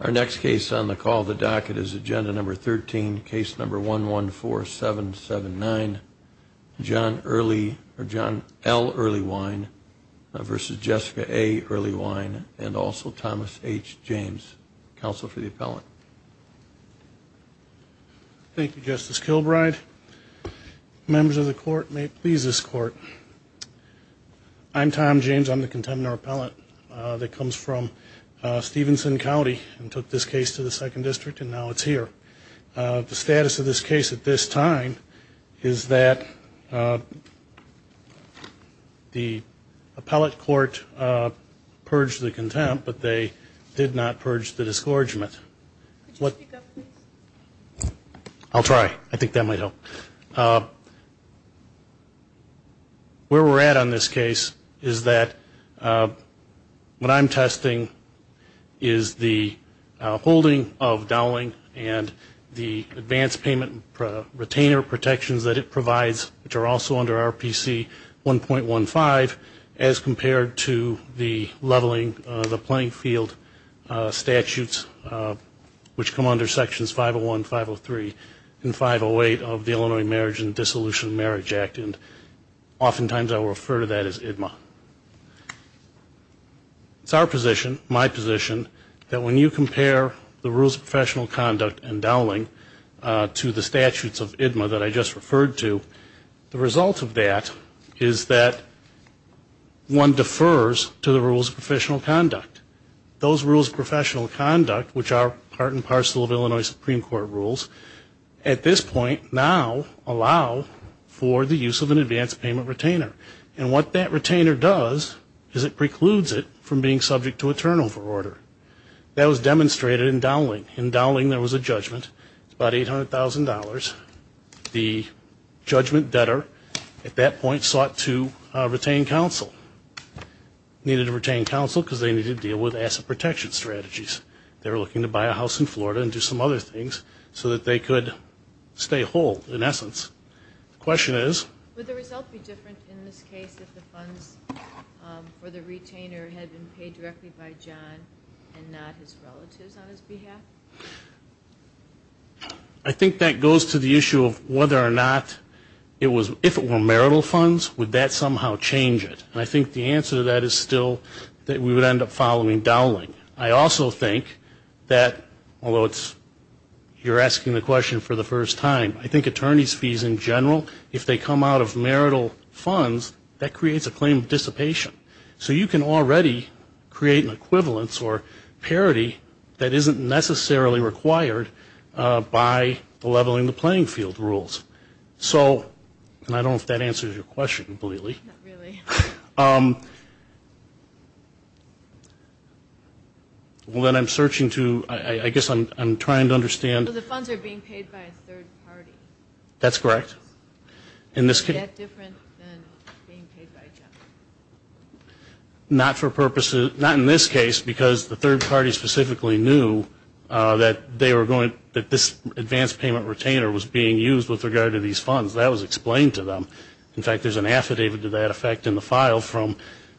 Our next case on the call the docket is agenda number 13 case number one one four seven seven nine John early or John L. Earlywine Versus Jessica a early wine and also Thomas H. James counsel for the appellant Thank You justice Kilbride members of the court may please this court I'm Tom James. I'm the contender appellant that comes from Stevenson County and took this case to the second district and now it's here the status of this case at this time is that The appellate court purged the contempt, but they did not purge the discouragement what? I'll try I think that might help Where we're at on this case is that? What I'm testing is the holding of Dowling and the advance payment retainer protections that it provides which are also under our PC 1.15 as compared to the leveling the playing field statutes which come under sections 501 503 and 508 of the Illinois marriage and Dissolution of Marriage Act and Oftentimes I will refer to that as IDMA It's our position my position that when you compare the rules of professional conduct and Dowling to the statutes of IDMA that I just referred to the result of that is that One defers to the rules of professional conduct those rules professional conduct Which are part and parcel of Illinois Supreme Court rules at this point now allow For the use of an advance payment retainer and what that retainer does is it precludes it from being subject to a turnover order? That was demonstrated in Dowling in Dowling. There was a judgment about eight hundred thousand dollars the Judgment debtor at that point sought to retain counsel Needed to retain counsel because they needed to deal with asset protection strategies They were looking to buy a house in Florida and do some other things so that they could Stay whole in essence the question is I think that goes to the issue of whether or not It was if it were marital funds would that somehow change it and I think the answer to that is still That we would end up following Dowling. I also think that although it's You're asking the question for the first time I think attorneys fees in general if they come out of marital funds that creates a claim dissipation So you can already create an equivalence or parity that isn't necessarily required By the leveling the playing field rules, so and I don't if that answers your question completely Um Well then I'm searching to I guess I'm trying to understand the funds are being paid by a third party that's correct in this Not for purposes not in this case because the third party specifically knew That they were going that this advance payment retainer was being used with regard to these funds that was explained to them in fact There's an affidavit to that effect in the file from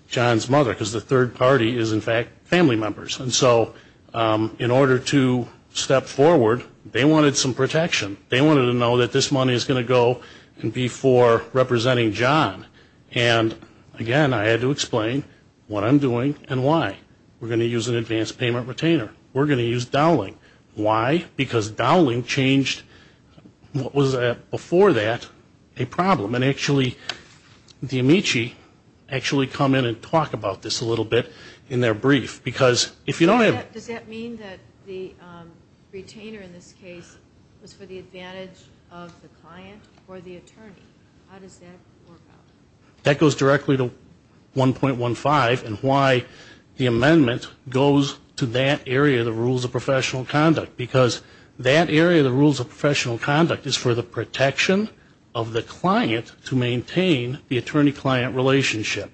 John's mother because the third party is in fact family members and so In order to step forward they wanted some protection they wanted to know that this money is going to go and be for representing John and Again, I had to explain what I'm doing and why we're going to use an advance payment retainer We're going to use Dowling why because Dowling changed What was that before that a problem and actually the Amici actually come in and talk about this a little bit in their brief because if you don't have does that mean that the Retainer in this case was for the advantage of the client or the attorney That goes directly to 1.15 and why the amendment goes to that area the rules of professional conduct because That area the rules of professional conduct is for the protection of the client to maintain the attorney-client relationship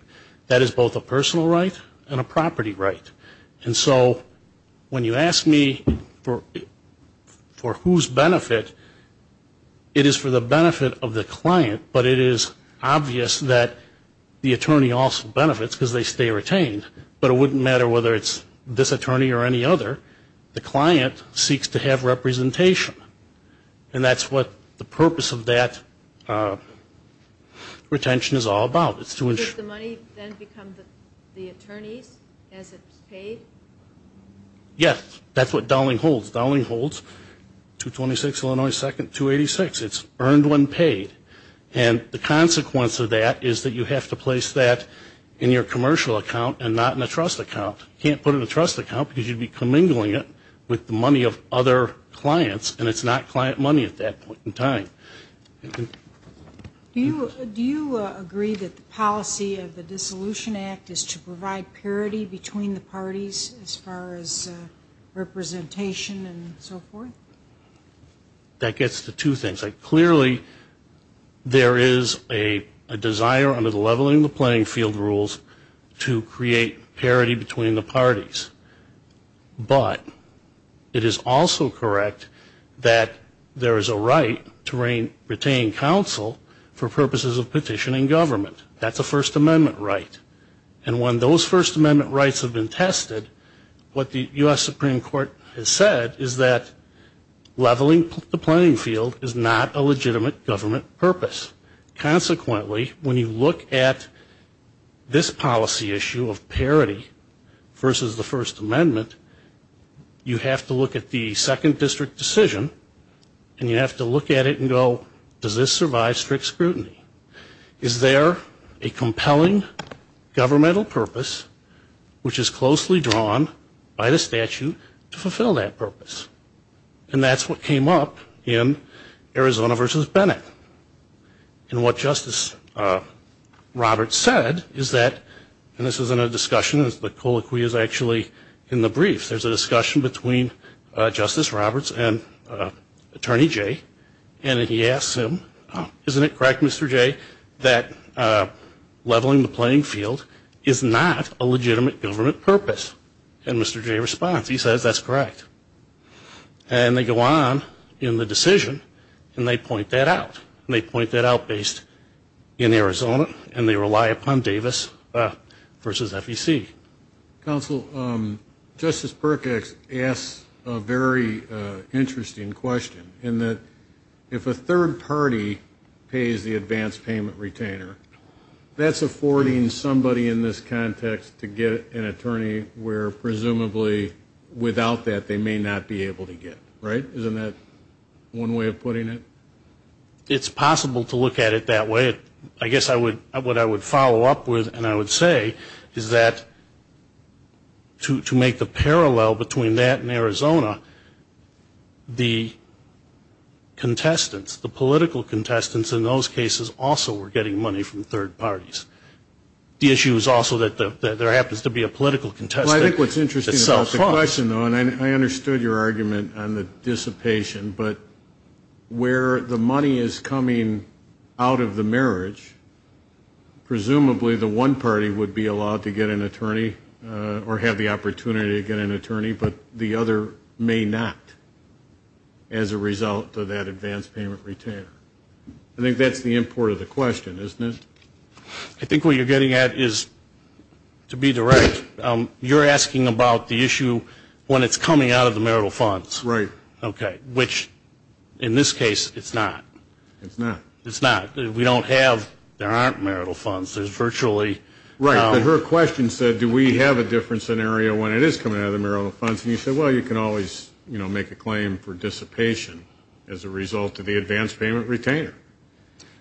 That is both a personal right and a property right and so when you ask me for for whose benefit It is for the benefit of the client But it is obvious that the attorney also benefits because they stay retained But it wouldn't matter whether it's this attorney or any other the client seeks to have representation And that's what the purpose of that Retention is all about it's too much Yes, that's what Dowling holds Dowling holds 226, Illinois second 286 It's earned when paid and the consequence of that is that you have to place that in your commercial account And not in a trust account can't put in a trust account because you'd be commingling it with the money of other Clients, and it's not client money at that point in time You do you agree that the policy of the Dissolution Act is to provide parity between the parties as far as Representation and so forth that gets the two things like clearly There is a desire under the leveling the playing field rules to create parity between the parties but It is also correct that There is a right to rain retain counsel for purposes of petitioning government That's a First Amendment right and when those First Amendment rights have been tested what the US Supreme Court has said is that? Leveling the playing field is not a legitimate government purpose consequently when you look at this policy issue of parity versus the First Amendment You have to look at the second district decision, and you have to look at it and go does this survive strict scrutiny is There a compelling governmental purpose Which is closely drawn by the statute to fulfill that purpose, and that's what came up in Arizona versus Bennett and what Justice Roberts said is that and this isn't a discussion as the colloquy is actually in the brief. There's a discussion between Justice Roberts and Attorney Jay, and he asked him isn't it correct Mr.. Jay that Leveling the playing field is not a legitimate government purpose and mr. Jay response he says that's correct and They go on in the decision, and they point that out and they point that out based In Arizona, and they rely upon Davis versus FEC counsel Justice Perkins asks a very Interesting question in that if a third party Pays the advance payment retainer That's affording somebody in this context to get an attorney. We're presumably Without that they may not be able to get right isn't that one way of putting it It's possible to look at it that way. I guess I would what I would follow up with and I would say is that To make the parallel between that and Arizona the Contestants the political contestants in those cases also were getting money from third parties The issue is also that there happens to be a political contest. I think what's interesting It's a question though, and I understood your argument on the dissipation, but Where the money is coming out of the marriage? Presumably the one party would be allowed to get an attorney or have the opportunity to get an attorney, but the other may not As a result of that advance payment retainer, I think that's the import of the question isn't it? I think what you're getting at is To be direct you're asking about the issue when it's coming out of the marital funds, right? Okay, which in this case? It's not it's not it's not we don't have there aren't marital funds There's virtually right her question said do we have a different scenario when it is coming out of the marital funds? You said well, you can always you know make a claim for dissipation as a result of the advance payment retainer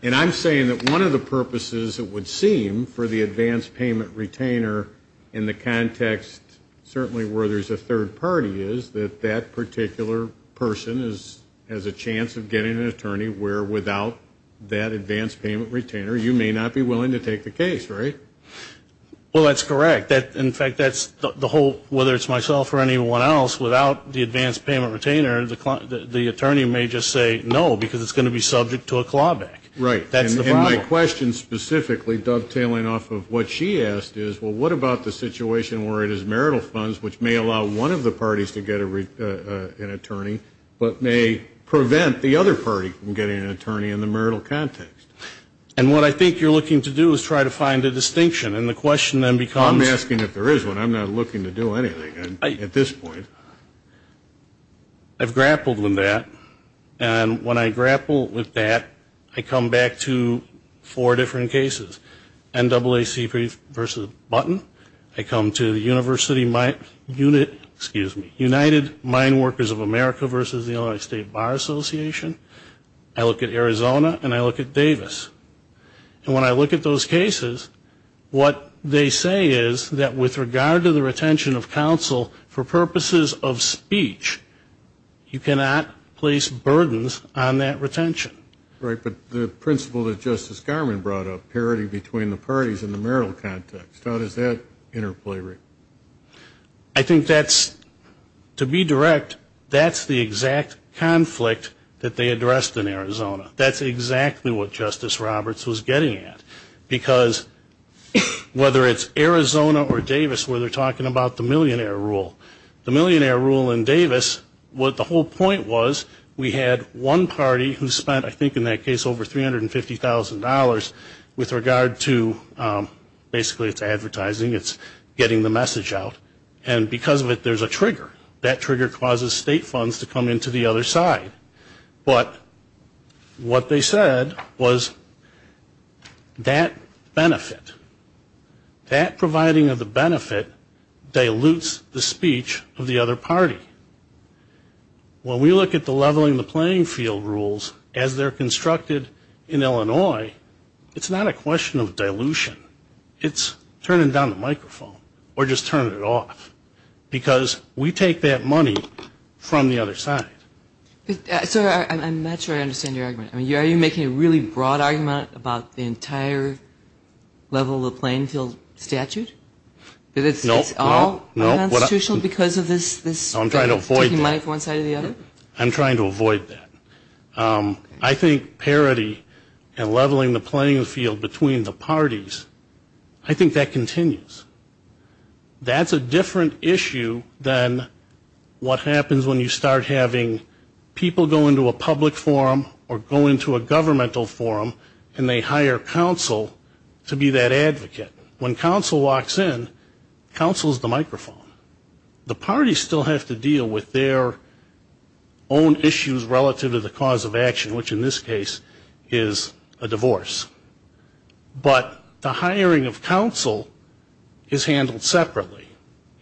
And I'm saying that one of the purposes that would seem for the advance payment retainer in the context Certainly where there's a third party is that that particular person is as a chance of getting an attorney where without That advance payment retainer you may not be willing to take the case, right? Well, that's correct that in fact That's the whole whether it's myself or anyone else without the advance payment retainer the client the attorney may just say no because it's going To be subject to a clawback, right? That's the question specifically dovetailing off of what she asked is Well, what about the situation where it is marital funds, which may allow one of the parties to get a read an attorney But may prevent the other party from getting an attorney in the marital context And what I think you're looking to do is try to find a distinction and the question then becomes asking if there is one I'm not looking to do anything at this point I've grappled with that and when I grapple with that I come back to four different cases NAACP versus button I come to the University my unit Excuse me United Mine Workers of America versus the Illinois State Bar Association I look at Arizona and I look at Davis And when I look at those cases What they say is that with regard to the retention of counsel for purposes of speech? You cannot place burdens on that retention, right? But the principle that Justice Garman brought up parity between the parties in the marital context. How does that interplay? I think that's To be direct. That's the exact Conflict that they addressed in Arizona. That's exactly what Justice Roberts was getting at because Whether it's Arizona or Davis where they're talking about the millionaire rule the millionaire rule in Davis What the whole point was we had one party who spent I think in that case over? $350,000 with regard to Basically, it's advertising. It's getting the message out and because of it There's a trigger that trigger causes state funds to come into the other side, but what they said was That benefit that providing of the benefit dilutes the speech of the other party When we look at the leveling the playing field rules as they're constructed in, Illinois It's not a question of dilution. It's turning down the microphone or just turn it off Because we take that money from the other side Sir, I'm not sure I understand your argument. I mean you are you making a really broad argument about the entire level of playing field statute It's no Constitutional because of this this I'm trying to avoid money for one side of the other. I'm trying to avoid that I think parity and leveling the playing field between the parties. I think that continues That's a different issue than What happens when you start having? People go into a public forum or go into a governmental forum and they hire counsel to be that advocate when counsel walks in counsels the microphone the party still have to deal with their Own issues relative to the cause of action which in this case is a divorce but the hiring of counsel Is handled separately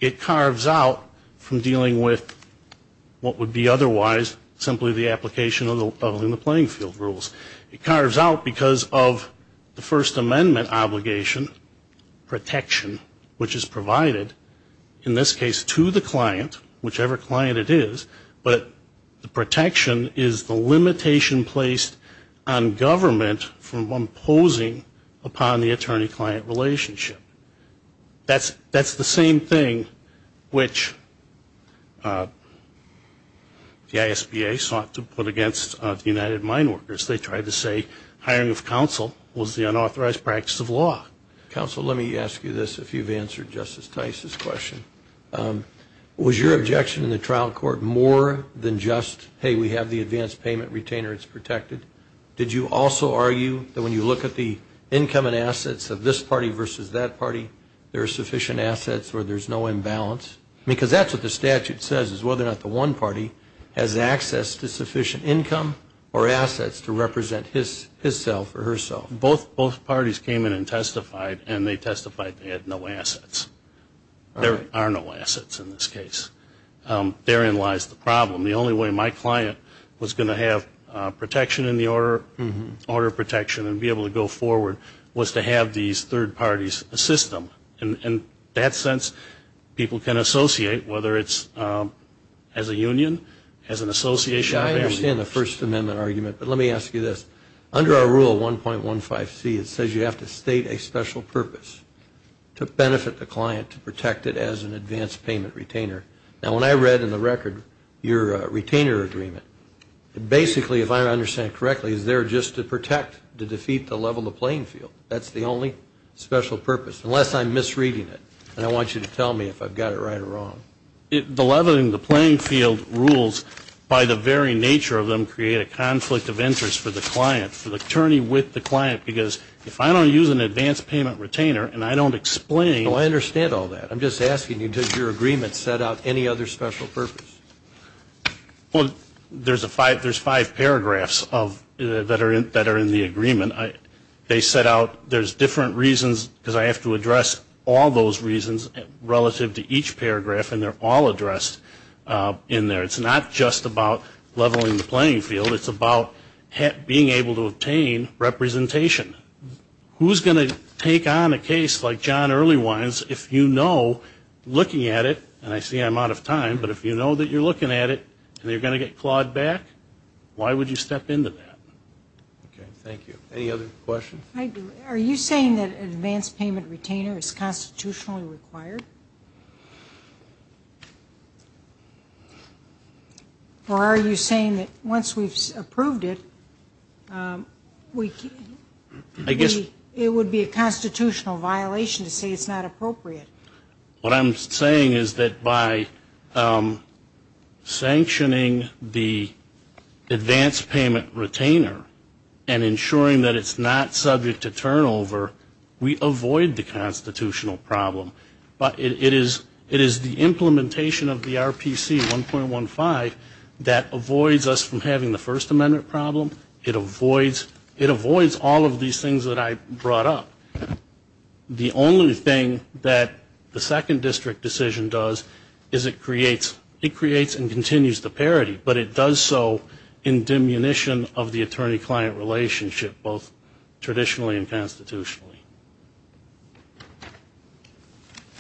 it carves out from dealing with? What would be otherwise? Simply the application of the leveling the playing field rules it carves out because of the First Amendment obligation Protection which is provided in this case to the client whichever client it is But the protection is the limitation placed on government from imposing upon the attorney-client relationship That's that's the same thing which The ISBA sought to put against the United Mine Workers They tried to say hiring of counsel was the unauthorized practice of law Counsel let me ask you this if you've answered justice Tice's question Was your objection in the trial court more than just hey we have the advanced payment retainer. It's protected Did you also argue that when you look at the income and assets of this party versus that party There are sufficient assets where there's no imbalance because that's what the statute says is whether or not the one party has access to sufficient income or Assets to represent his his self or herself both both parties came in and testified and they testified they had no assets There are no assets in this case Therein lies the problem the only way my client was going to have Protection in the order order of protection and be able to go forward was to have these third parties a system and in that sense People can associate whether it's as a union as an association I understand the First Amendment argument, but let me ask you this under our rule 1.15 C It says you have to state a special purpose To benefit the client to protect it as an advanced payment retainer now when I read in the record your retainer agreement Basically, if I understand correctly is there just to protect to defeat the level the playing field That's the only special purpose unless I'm misreading it and I want you to tell me if I've got it right or wrong It the leveling the playing field rules by the very nature of them create a conflict of interest for the client for the attorney with the client because if I don't use An advanced payment retainer, and I don't explain. Oh, I understand all that. I'm just asking you did your agreement set out any other special purpose Well, there's a five. There's five paragraphs of that are in that are in the agreement I they set out there's different reasons because I have to address all those reasons Relative to each paragraph and they're all addressed In there, it's not just about leveling the playing field. It's about being able to obtain representation Who's going to take on a case like John early wines if you know? Looking at it, and I see I'm out of time, but if you know that you're looking at it, and you're going to get clawed back Why would you step into that? Okay, thank you any other questions. I do are you saying that an advanced payment retainer is constitutionally required? Or are you saying that once we've approved it We I guess it would be a constitutional violation to say it's not appropriate what I'm saying is that by Sanctioning the advanced payment retainer and Ensuring that it's not subject to turnover. We avoid the constitutional problem But it is it is the implementation of the RPC 1.15 That avoids us from having the first amendment problem it avoids it avoids all of these things that I brought up The only thing that the second district decision does is it creates it creates and continues the parity But it does so in diminution of the attorney-client relationship both traditionally and constitutionally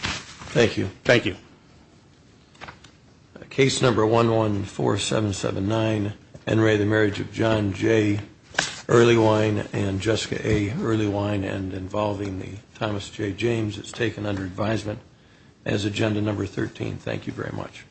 Thank you, thank you Case number one one four seven seven nine and ray the marriage of John Jay Early wine and Jessica a early wine and involving the Thomas J. James It's taken under advisement as agenda number 13. Thank you very much